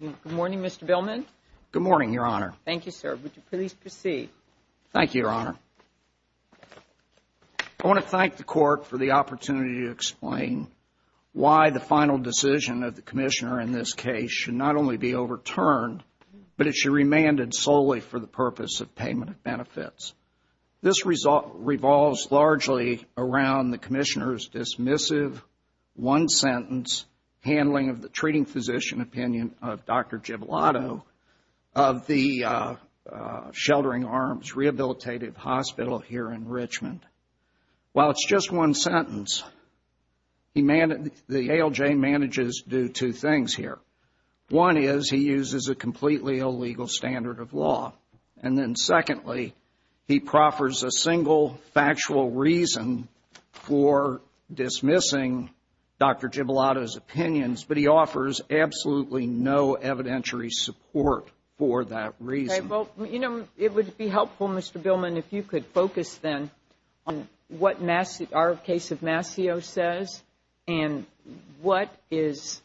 Good morning, Mr. Billman. Good morning, Your Honor. Thank you, sir. Would you please proceed? Thank you, Your Honor. I want to thank the Court for the opportunity to explain why the final decision of the Commissioner in this case should not only be overturned, but it should be remanded solely for the purpose of payment of benefits. This result revolves largely around the Commissioner's dismissive one-sentence handling of the treating physician opinion of Dr. Giblotto of the Sheltering Arms Rehabilitative Hospital here in Richmond. While it's just one sentence, the ALJ manages to do two things here. One is he uses a completely illegal standard of law. And then secondly, he proffers a single factual reason for dismissing Dr. Giblotto's opinions, but he offers absolutely no evidentiary support for that reason. Well, you know, it would be helpful, Mr. Billman, if you could focus then on what our case of Mascio says and what is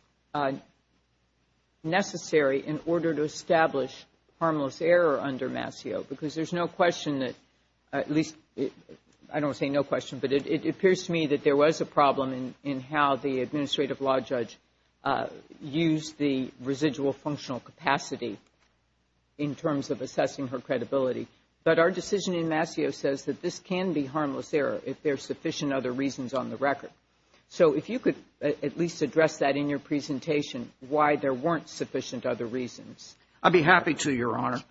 necessary in order to establish harmless error under Mascio. Because there's no question that, at least, I don't want to say no question, but it appears to me that there was a problem in how the administrative law judge used the residual functional capacity in terms of assessing her credibility. But our decision in Mascio says that this can be harmless error if there are sufficient other reasons on the record. So if you could at least address that in your presentation, why there weren't sufficient other reasons. I'd be happy to, Your Honor.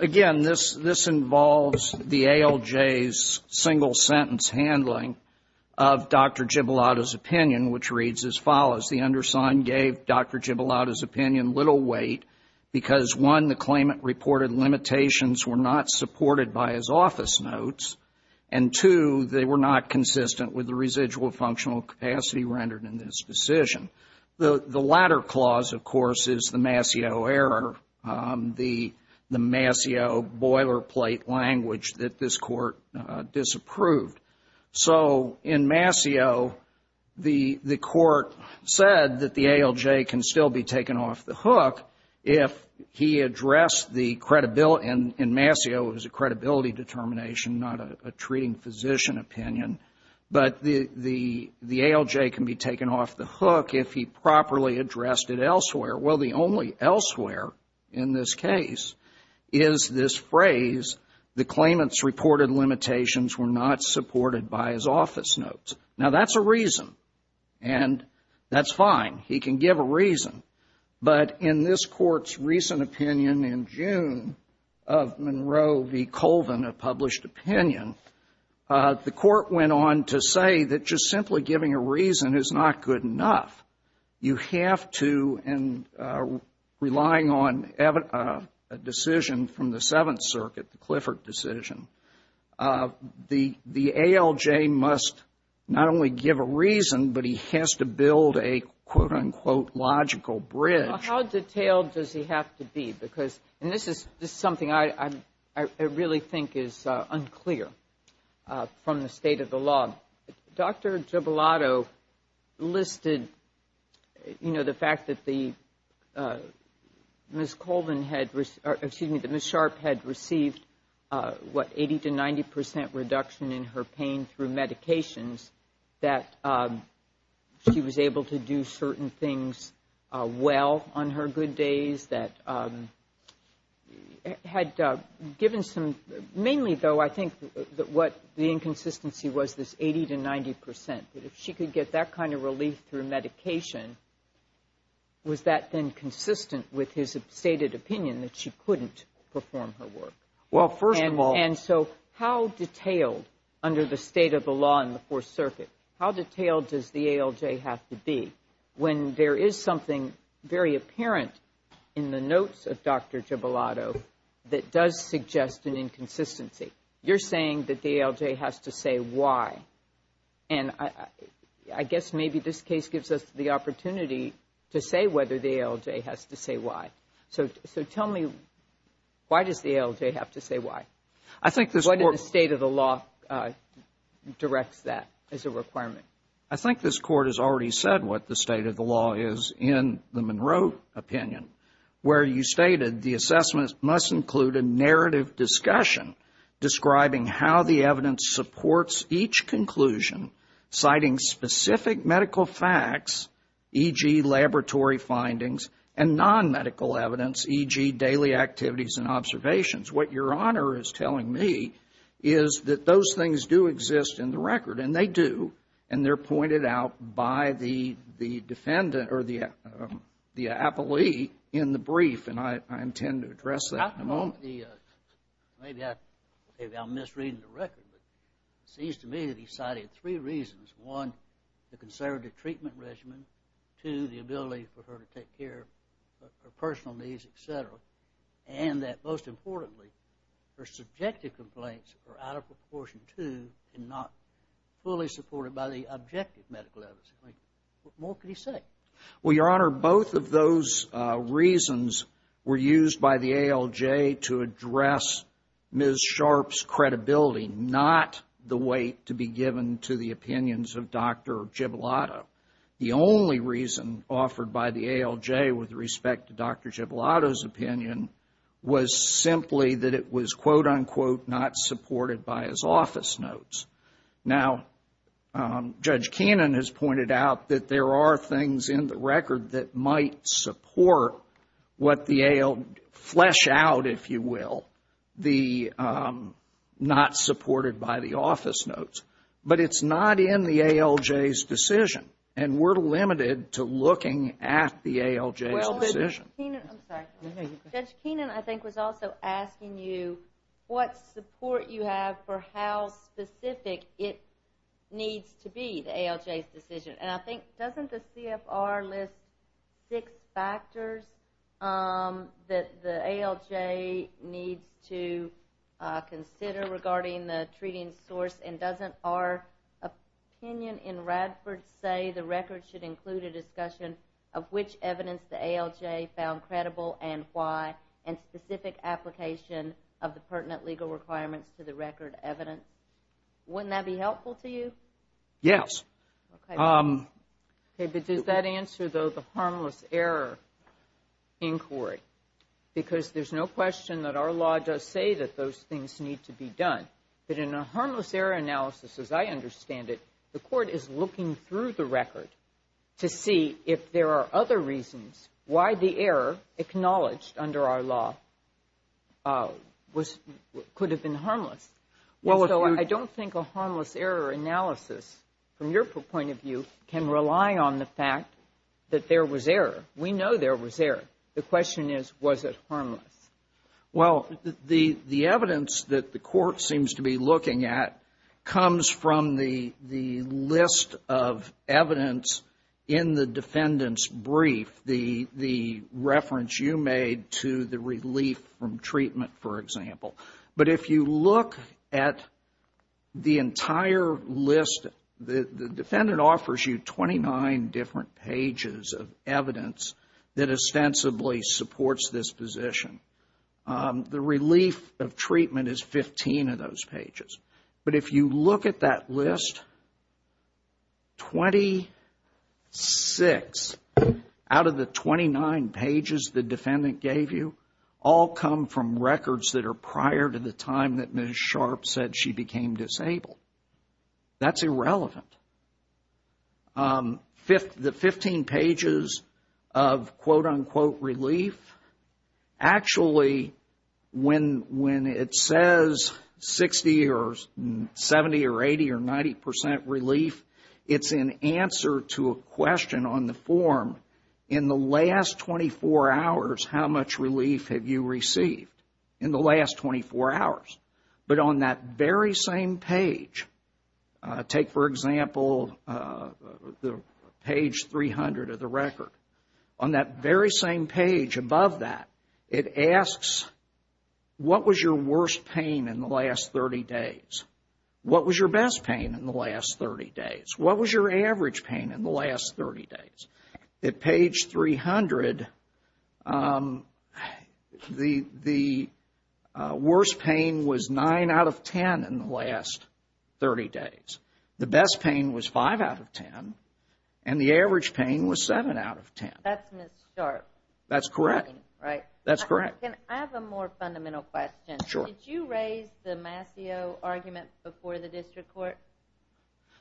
Again, this involves the ALJ's single sentence handling of Dr. Giblotto's opinion, which reads as follows. The undersigned gave Dr. Giblotto's opinion little weight because, one, the claimant reported limitations were not supported by his office notes. And, two, they were not consistent with the residual functional capacity rendered in this decision. The latter clause, of course, is the Mascio error, the Mascio boilerplate language that this Court disapproved. So in Mascio, the Court said that the ALJ can still be taken off the hook if he addressed the credibility. In Mascio, it was a credibility determination, not a treating physician opinion. But the ALJ can be taken off the hook if he properly addressed it elsewhere. Well, the only elsewhere in this case is this phrase, the claimant's reported limitations were not supported by his office notes. Now, that's a reason, and that's fine. He can give a reason. But in this Court's recent opinion in June of Monroe v. Colvin, a published opinion, the Court went on to say that just simply giving a reason is not good enough. You have to, and relying on a decision from the Seventh Circuit, the Clifford decision, the ALJ must not only give a reason, but he has to build a, quote, unquote, logical bridge. How detailed does he have to be? Because, and this is something I really think is unclear from the state of the law. Well, Dr. Gibalato listed, you know, the fact that the Ms. Colvin had, or excuse me, that Ms. Sharp had received, what, 80 to 90 percent reduction in her pain through medications, that she was able to do certain things well on her good days, that had given some, mainly, though, I think what the inconsistency was this 80 to 90 percent, that if she could get that kind of relief through medication, was that then consistent with his stated opinion that she couldn't perform her work? Well, first of all. And so how detailed, under the state of the law in the Fourth Circuit, how detailed does the ALJ have to be when there is something very apparent in the notes of Dr. Gibalato that does suggest an inconsistency? You're saying that the ALJ has to say why. And I guess maybe this case gives us the opportunity to say whether the ALJ has to say why. So tell me, why does the ALJ have to say why? I think this court. What in the state of the law directs that as a requirement? I think this court has already said what the state of the law is in the Monroe opinion, where you stated the assessment must include a narrative discussion describing how the evidence supports each conclusion, citing specific medical facts, e.g., laboratory findings, and non-medical evidence, e.g., daily activities and observations. What Your Honor is telling me is that those things do exist in the record, and they do, and they're pointed out by the defendant or the appellee in the brief, and I intend to address that in a moment. Maybe I'm misreading the record, but it seems to me that he cited three reasons. One, the conservative treatment regimen. Two, the ability for her to take care of her personal needs, et cetera. And that, most importantly, her subjective complaints are out of proportion, too, and not fully supported by the objective medical evidence. What more could he say? Well, Your Honor, both of those reasons were used by the ALJ to address Ms. Sharpe's credibility, not the weight to be given to the opinions of Dr. Gibilotto. The only reason offered by the ALJ with respect to Dr. Gibilotto's opinion was simply that it was, quote, unquote, not supported by his office notes. Now, Judge Kannon has pointed out that there are things in the record that might support what the ALJ, flesh out, if you will, the not supported by the office notes. But it's not in the ALJ's decision, and we're limited to looking at the ALJ's decision. Judge Kannon, I think, was also asking you what support you have for how specific it needs to be, the ALJ's decision. And I think, doesn't the CFR list six factors that the ALJ needs to consider regarding the treating source and doesn't our opinion in Radford say the record should include a discussion of which evidence the ALJ found credible and why and specific application of the pertinent legal requirements to the record evidence? Wouldn't that be helpful to you? Yes. Okay, but does that answer, though, the harmless error inquiry? Because there's no question that our law does say that those things need to be done. But in a harmless error analysis, as I understand it, the court is looking through the record to see if there are other reasons why the error acknowledged under our law could have been harmless. So I don't think a harmless error analysis, from your point of view, can rely on the fact that there was error. We know there was error. The question is, was it harmless? Well, the evidence that the court seems to be looking at comes from the list of evidence in the defendant's brief, the reference you made to the relief from treatment, for example. But if you look at the entire list, the defendant offers you 29 different pages of evidence that ostensibly supports this position. The relief of treatment is 15 of those pages. But if you look at that list, 26 out of the 29 pages the defendant gave you all come from records that are prior to the time that Ms. Sharp said she became disabled. That's irrelevant. The 15 pages of quote-unquote relief, actually when it says 60 or 70 or 80 or 90 percent relief, it's an answer to a question on the form, in the last 24 hours how much relief have you received? In the last 24 hours. But on that very same page, take for example page 300 of the record. On that very same page above that, it asks what was your worst pain in the last 30 days? What was your best pain in the last 30 days? What was your average pain in the last 30 days? At page 300, the worst pain was 9 out of 10 in the last 30 days. The best pain was 5 out of 10, and the average pain was 7 out of 10. That's Ms. Sharp. That's correct. Right. That's correct. Can I have a more fundamental question? Sure. Did you raise the Mascio argument before the district court?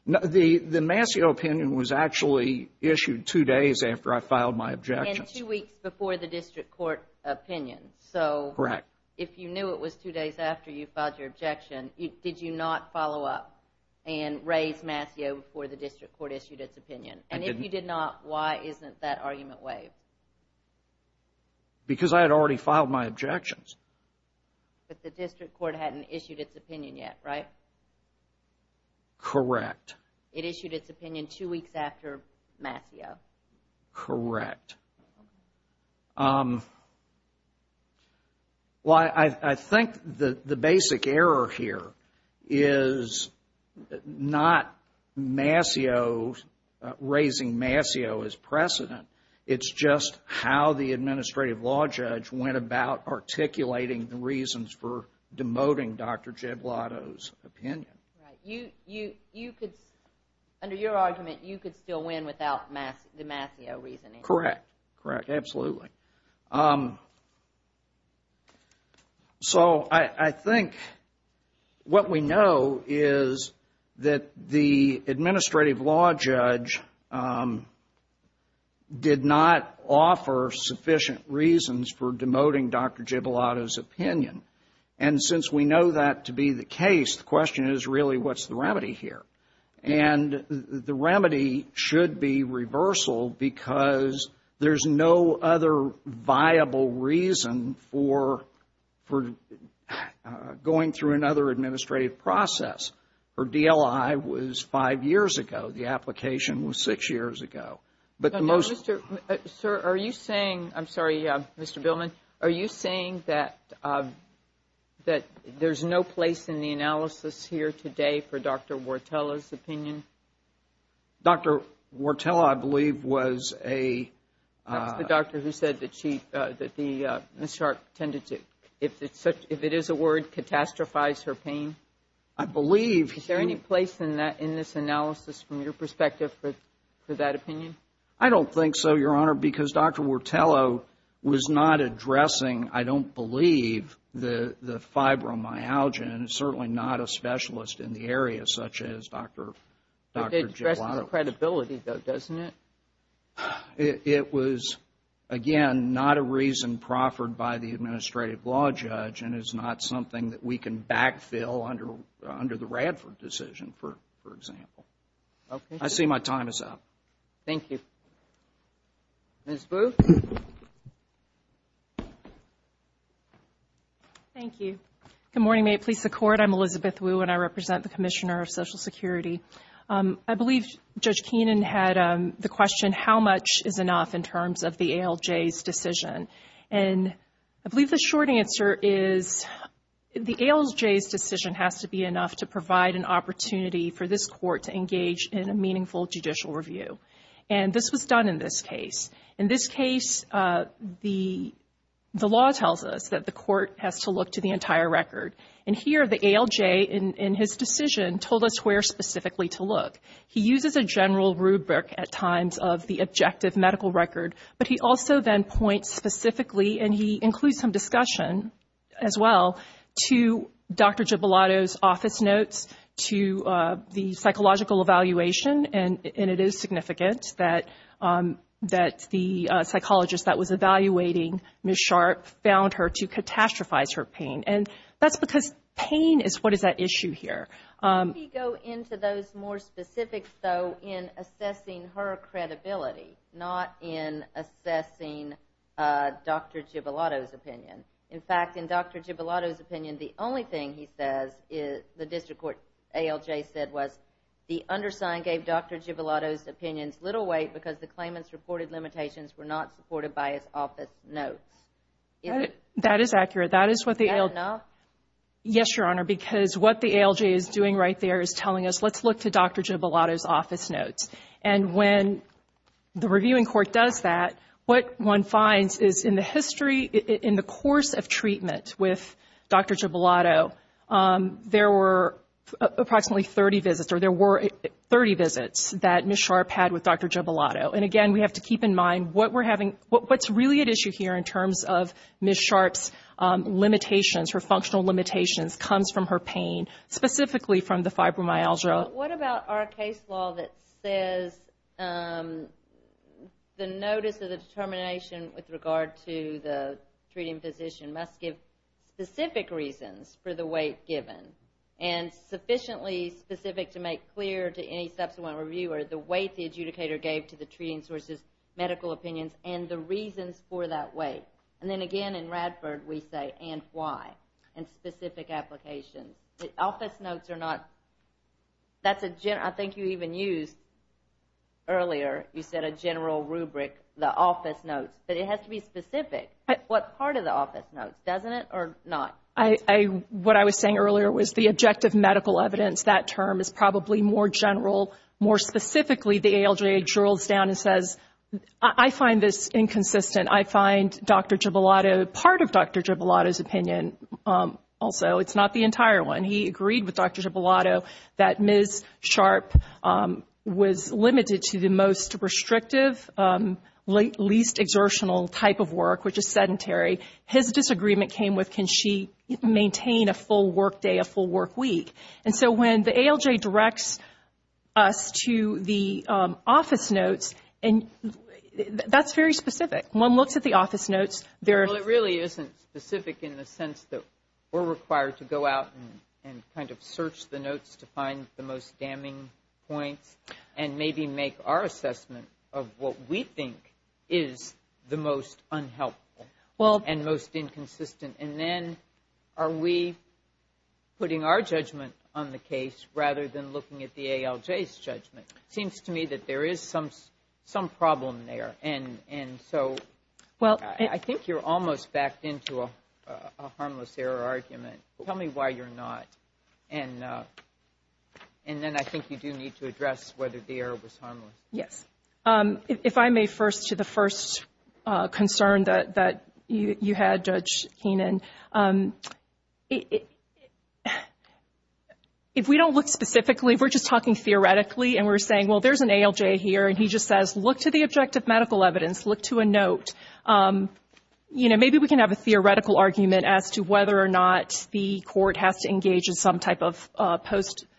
The Mascio opinion was actually issued two days after I filed my objections. And two weeks before the district court opinion. Correct. If you knew it was two days after you filed your objection, did you not follow up and raise Mascio before the district court issued its opinion? I didn't. And if you did not, why isn't that argument waived? Because I had already filed my objections. But the district court hadn't issued its opinion yet, right? Correct. It issued its opinion two weeks after Mascio. Correct. Well, I think the basic error here is not Mascio, raising Mascio as precedent. It's just how the administrative law judge went about articulating the reasons for demoting Dr. Giblotto's opinion. Right. Under your argument, you could still win without the Mascio reasoning. Correct. Correct. Absolutely. So I think what we know is that the administrative law judge did not offer sufficient reasons for demoting Dr. Giblotto's opinion. And since we know that to be the case, the question is really what's the remedy here? And the remedy should be reversal because there's no other viable reason for going through another administrative process. Her DLI was five years ago. The application was six years ago. Sir, are you saying, I'm sorry, Mr. Billman, are you saying that there's no place in the analysis here today for Dr. Wartella's opinion? Dr. Wartella, I believe, was a That's the doctor who said that she, that Ms. Sharp tended to, if it is a word, catastrophize her pain. I believe Is there any place in this analysis from your perspective for that opinion? I don't think so, Your Honor, because Dr. Wartella was not addressing, I don't believe, the fibromyalgia and is certainly not a specialist in the area such as Dr. Giblotto. But it addresses the credibility, though, doesn't it? It was, again, not a reason proffered by the administrative law judge and is not something that we can backfill under the Radford decision, for example. Okay. I see my time is up. Thank you. Ms. Wu. Thank you. Good morning. May it please the Court, I'm Elizabeth Wu and I represent the Commissioner of Social Security. I believe Judge Keenan had the question, how much is enough in terms of the ALJ's decision? And I believe the short answer is the ALJ's decision has to be enough to provide an opportunity for this Court to engage in a meaningful judicial review. And this was done in this case. In this case, the law tells us that the Court has to look to the entire record. And here the ALJ in his decision told us where specifically to look. He uses a general rubric at times of the objective medical record, but he also then points specifically, and he includes some discussion as well, to Dr. Gibellato's office notes, to the psychological evaluation. And it is significant that the psychologist that was evaluating Ms. Sharp found her to catastrophize her pain. And that's because pain is what is at issue here. Let me go into those more specifics, though, in assessing her credibility, not in assessing Dr. Gibellato's opinion. In fact, in Dr. Gibellato's opinion, the only thing he says is, the district court ALJ said was, the undersign gave Dr. Gibellato's opinions little weight because the claimant's reported limitations were not supported by his office notes. That is what the ALJ... Is that enough? What he's doing right there is telling us, let's look to Dr. Gibellato's office notes. And when the reviewing court does that, what one finds is in the history, in the course of treatment with Dr. Gibellato, there were approximately 30 visits, or there were 30 visits that Ms. Sharp had with Dr. Gibellato. And again, we have to keep in mind what we're having... What's really at issue here in terms of Ms. Sharp's limitations, her functional limitations comes from her pain, specifically from the fibromyalgia. What about our case law that says the notice of the determination with regard to the treating physician must give specific reasons for the weight given, and sufficiently specific to make clear to any subsequent reviewer the weight the adjudicator gave to the treating source's medical opinions and the reasons for that weight? And then again, in Radford, we say, and why? And specific applications. Office notes are not... That's a general... I think you even used earlier, you said a general rubric, the office notes. But it has to be specific. What part of the office notes? Doesn't it, or not? What I was saying earlier was the objective medical evidence, that term is probably more general, more specifically, the ALJ drills down and says, I find this inconsistent. I find Dr. Gibilotto, part of Dr. Gibilotto's opinion also, it's not the entire one. He agreed with Dr. Gibilotto that Ms. Sharp was limited to the most restrictive, least exertional type of work, which is sedentary. His disagreement came with, can she maintain a full work day, a full work week? And so when the ALJ directs us to the office notes, and that's very specific. One looks at the office notes, there... Well, it really isn't specific in the sense that we're required to go out and kind of search the notes to find the most damning points and maybe make our assessment of what we think is the most unhelpful and most inconsistent. And then are we putting our judgment on the case rather than looking at the ALJ's judgment? It seems to me that there is some problem there. And so I think you're almost backed into a harmless error argument. Tell me why you're not. And then I think you do need to address whether the error was harmless. Yes. If I may, first, to the first concern that you had, Judge Keenan. If we don't look specifically, if we're just talking theoretically and we're saying, well, there's an ALJ here and he just says, look to the objective medical evidence, look to a note. You know, maybe we can have a theoretical argument as to whether or not the court has to engage in some type of post-talk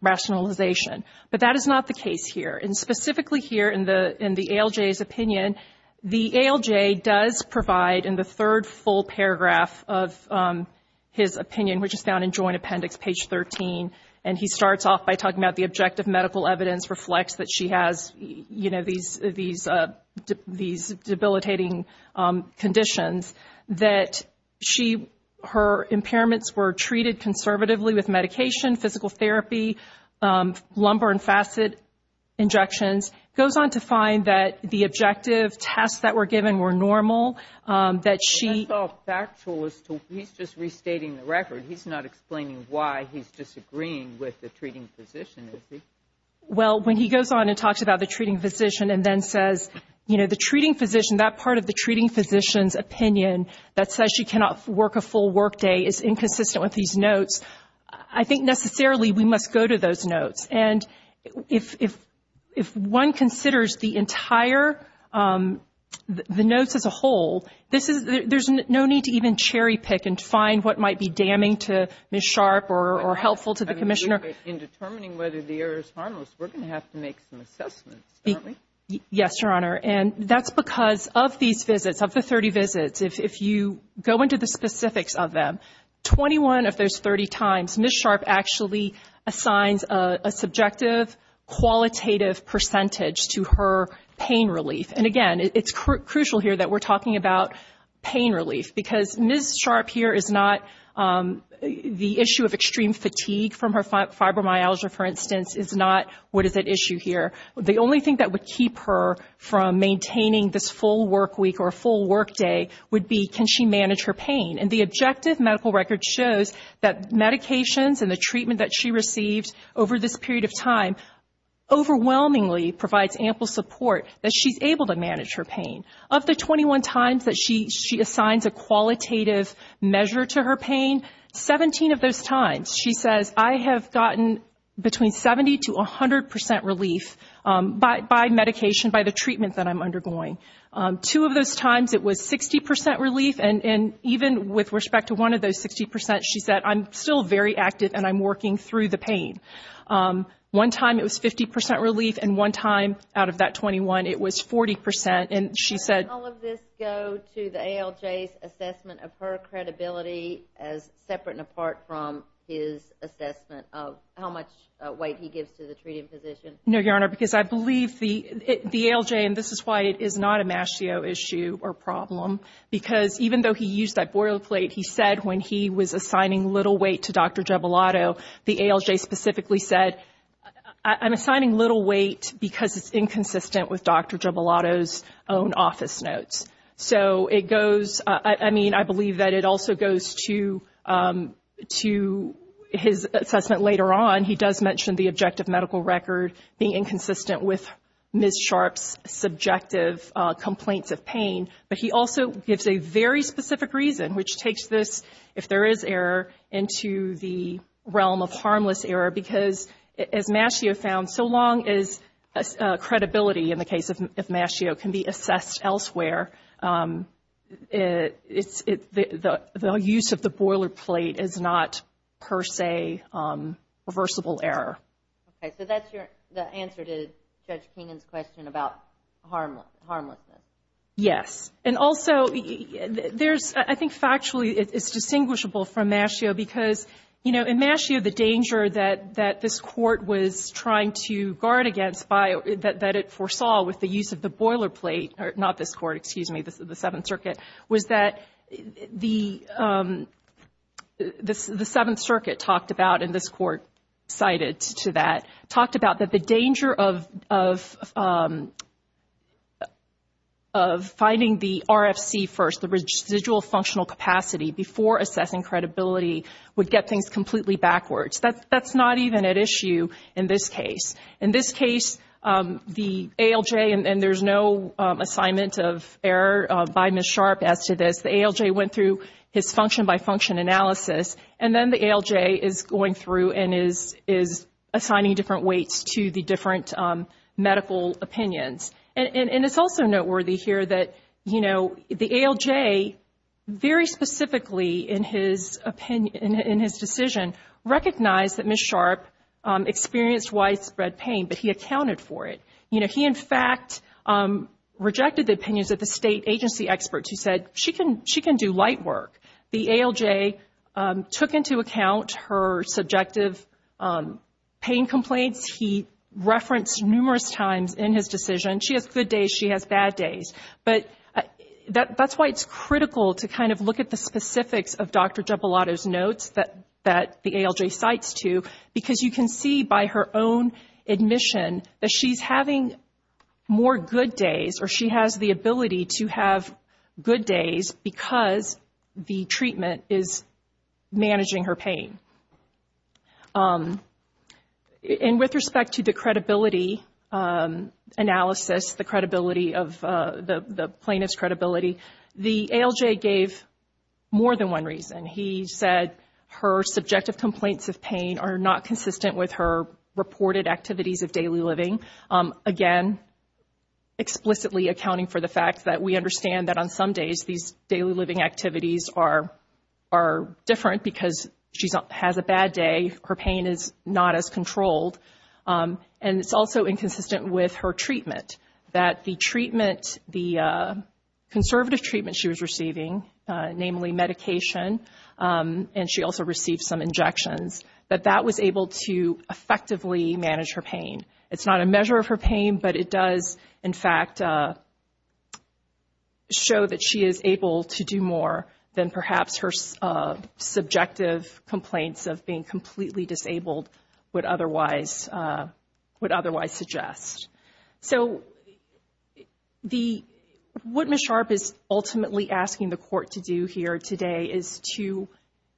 rationalization. But that is not the case here. And specifically here in the ALJ's opinion, the ALJ does provide in the third full paragraph of his opinion, which is found in Joint Appendix, page 13. And he starts off by talking about the objective medical evidence reflects that she has, you know, these debilitating conditions, that her impairments were treated conservatively with medication, physical therapy, lumbar and facet injections. Goes on to find that the objective tests that were given were normal, that she. That's all factual. He's just restating the record. He's not explaining why he's disagreeing with the treating physician, is he? Well, when he goes on and talks about the treating physician and then says, you know, the treating physician, that part of the treating physician's opinion that says she cannot work a full workday is inconsistent with these notes. I think necessarily we must go to those notes. And if one considers the entire, the notes as a whole, this is, there's no need to even cherry pick and find what might be damning to Ms. Sharp or helpful to the Commissioner. In determining whether the error is harmless, we're going to have to make some assessments, aren't we? Yes, Your Honor. And that's because of these visits, of the 30 visits, if you go into the specifics of them, 21 of those 30 times, Ms. Sharp actually assigns a subjective, qualitative percentage to her pain relief. And, again, it's crucial here that we're talking about pain relief because Ms. Sharp here is not, the issue of extreme fatigue from her fibromyalgia, for instance, is not what is at issue here. The only thing that would keep her from maintaining this full work week or a full workday would be, can she manage her pain? And the objective medical record shows that medications and the treatment that she received over this period of time overwhelmingly provides ample support that she's able to manage her pain. Of the 21 times that she assigns a qualitative measure to her pain, 17 of those times she says, I have gotten between 70 to 100 percent relief by medication, by the treatment that I'm undergoing. Two of those times it was 60 percent relief, and even with respect to one of those 60 percent, she said, I'm still very active and I'm working through the pain. One time it was 50 percent relief, and one time out of that 21, it was 40 percent. And she said- How does all of this go to the ALJ's assessment of her credibility as separate and apart from his assessment of how much weight he gives to the treating physician? No, Your Honor, because I believe the ALJ, and this is why it is not a Mascio issue or problem, because even though he used that boilerplate, he said when he was assigning little weight to Dr. Giobellato, the ALJ specifically said, I'm assigning little weight because it's inconsistent with Dr. Giobellato's own office notes. So it goes, I mean, I believe that it also goes to his assessment later on. He does mention the objective medical record being inconsistent with Ms. Sharpe's subjective complaints of pain, but he also gives a very specific reason, which takes this, if there is error, into the realm of harmless error, because as Mascio found, so long as credibility, in the case of Mascio, can be assessed elsewhere, the use of the boilerplate is not, per se, reversible error. Okay. So that's the answer to Judge Keenan's question about harmlessness. Yes. And also, I think factually it's distinguishable from Mascio because, you know, in Mascio the danger that this Court was trying to guard against, that it foresaw with the use of the boilerplate, not this Court, excuse me, the Seventh Circuit, was that the Seventh Circuit talked about, and this Court cited to that, talked about that the danger of finding the RFC first, the residual functional capacity, before assessing credibility would get things completely backwards. That's not even at issue in this case. In this case, the ALJ, and there's no assignment of error by Ms. Sharp as to this, the ALJ went through his function-by-function analysis, and then the ALJ is going through and is assigning different weights to the different medical opinions. And it's also noteworthy here that, you know, the ALJ, very specifically in his decision, recognized that Ms. Sharp experienced widespread pain, but he accounted for it. You know, he, in fact, rejected the opinions of the state agency experts who said, she can do light work. The ALJ took into account her subjective pain complaints. He referenced numerous times in his decision, she has good days, she has bad days. But that's why it's critical to kind of look at the specifics of Dr. DiBellato's notes that the ALJ cites to, because you can see by her own admission that she's having more good days, or she has the ability to have good days because the treatment is managing her pain. And with respect to the credibility analysis, the credibility of the plaintiff's credibility, the ALJ gave more than one reason. He said her subjective complaints of pain are not consistent with her reported activities of daily living. Again, explicitly accounting for the fact that we understand that on some days, these daily living activities are different because she has a bad day, her pain is not as controlled. And it's also inconsistent with her treatment, that the conservative treatment she was receiving, namely medication, and she also received some injections, that that was able to effectively manage her pain. It's not a measure of her pain, but it does, in fact, show that she is able to do more than perhaps her subjective complaints of being completely disabled would otherwise suggest. So what Ms. Sharp is ultimately asking the court to do here today is to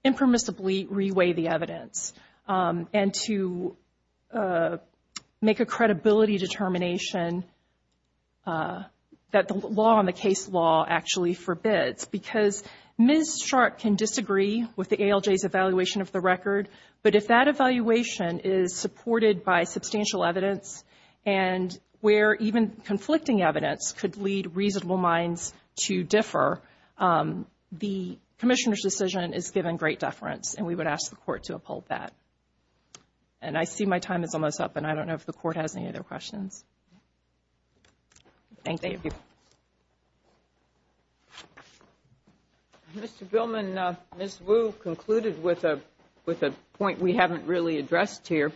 impermissibly reweigh the evidence and to make a credibility determination that the law on the case law actually forbids. Because Ms. Sharp can disagree with the ALJ's evaluation of the record, but if that evaluation is supported by substantial evidence, and where even conflicting evidence could lead reasonable minds to differ, the commissioner's decision is given great deference, and we would ask the court to uphold that. And I see my time is almost up, and I don't know if the court has any other questions. Thank you. Mr. Gilman, Ms. Wu concluded with a point we haven't really addressed here.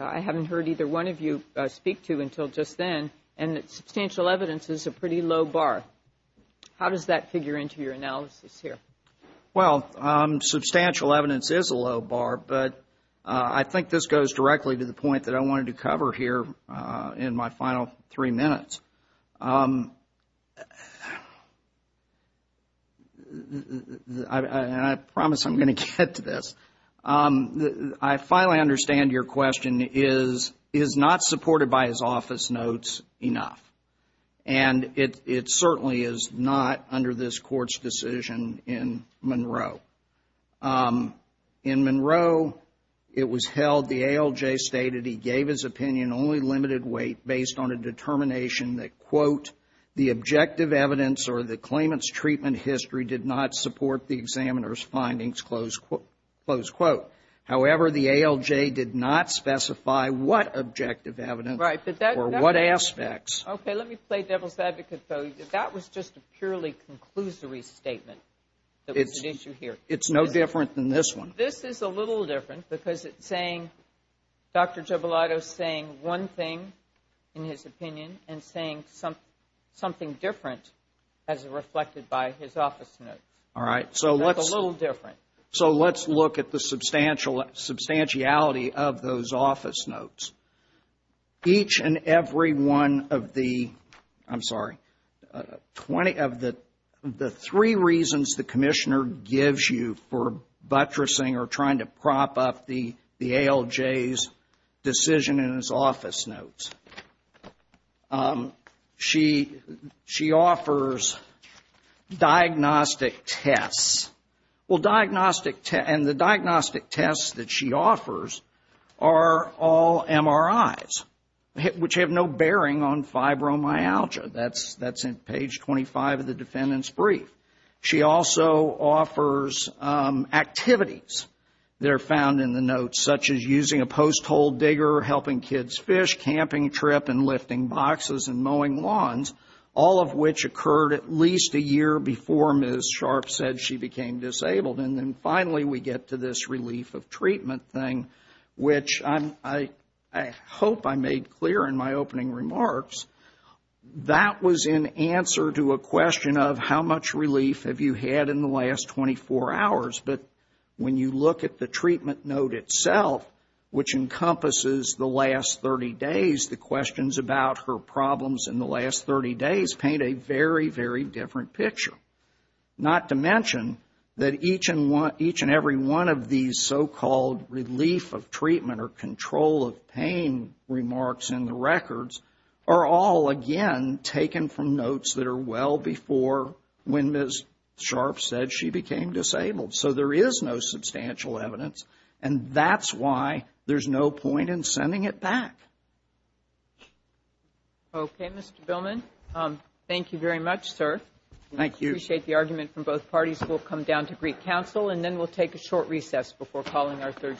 I haven't heard either one of you speak to until just then, and substantial evidence is a pretty low bar. How does that figure into your analysis here? Well, substantial evidence is a low bar, but I think this goes directly to the point that I wanted to cover here in my final three minutes. And I promise I'm going to get to this. I finally understand your question is, is not supported by his office notes enough? And it certainly is not under this Court's decision in Monroe. In Monroe, it was held the ALJ stated he gave his opinion only limited weight based on a determination that, quote, the objective evidence or the claimant's treatment history did not support the examiner's findings, close quote. However, the ALJ did not specify what objective evidence or what aspects. Okay. Let me play devil's advocate, though. That was just a purely conclusory statement. It's an issue here. It's no different than this one. This is a little different because it's saying, Dr. Giobalato's saying one thing in his opinion and saying something different as reflected by his office notes. All right. So that's a little different. So let's look at the substantiality of those office notes. Each and every one of the, I'm sorry, 20 of the three reasons the commissioner gives you for buttressing or trying to prop up the ALJ's decision in his office notes. She offers diagnostic tests. Well, diagnostic, and the diagnostic tests that she offers are all MRIs, which have no bearing on fibromyalgia. That's in page 25 of the defendant's brief. She also offers activities that are found in the notes, such as using a post hole digger, helping kids fish, camping trip and lifting boxes and mowing lawns, all of which occurred at least a year before Ms. Sharp said she became disabled. And then finally we get to this relief of treatment thing, which I hope I made clear in my opening remarks. That was in answer to a question of how much relief have you had in the last 24 hours. But when you look at the treatment note itself, which encompasses the last 30 days, the questions about her problems in the last 30 days paint a very, very different picture. Not to mention that each and every one of these so-called relief of treatment or control of pain remarks in the records are all, again, taken from notes that are well before when Ms. Sharp said she became disabled. So there is no substantial evidence, and that's why there's no point in sending it back. Okay, Mr. Billman, thank you very much, sir. I appreciate the argument from both parties. We'll come down to Greek Council and then we'll take a short recess before calling our third case.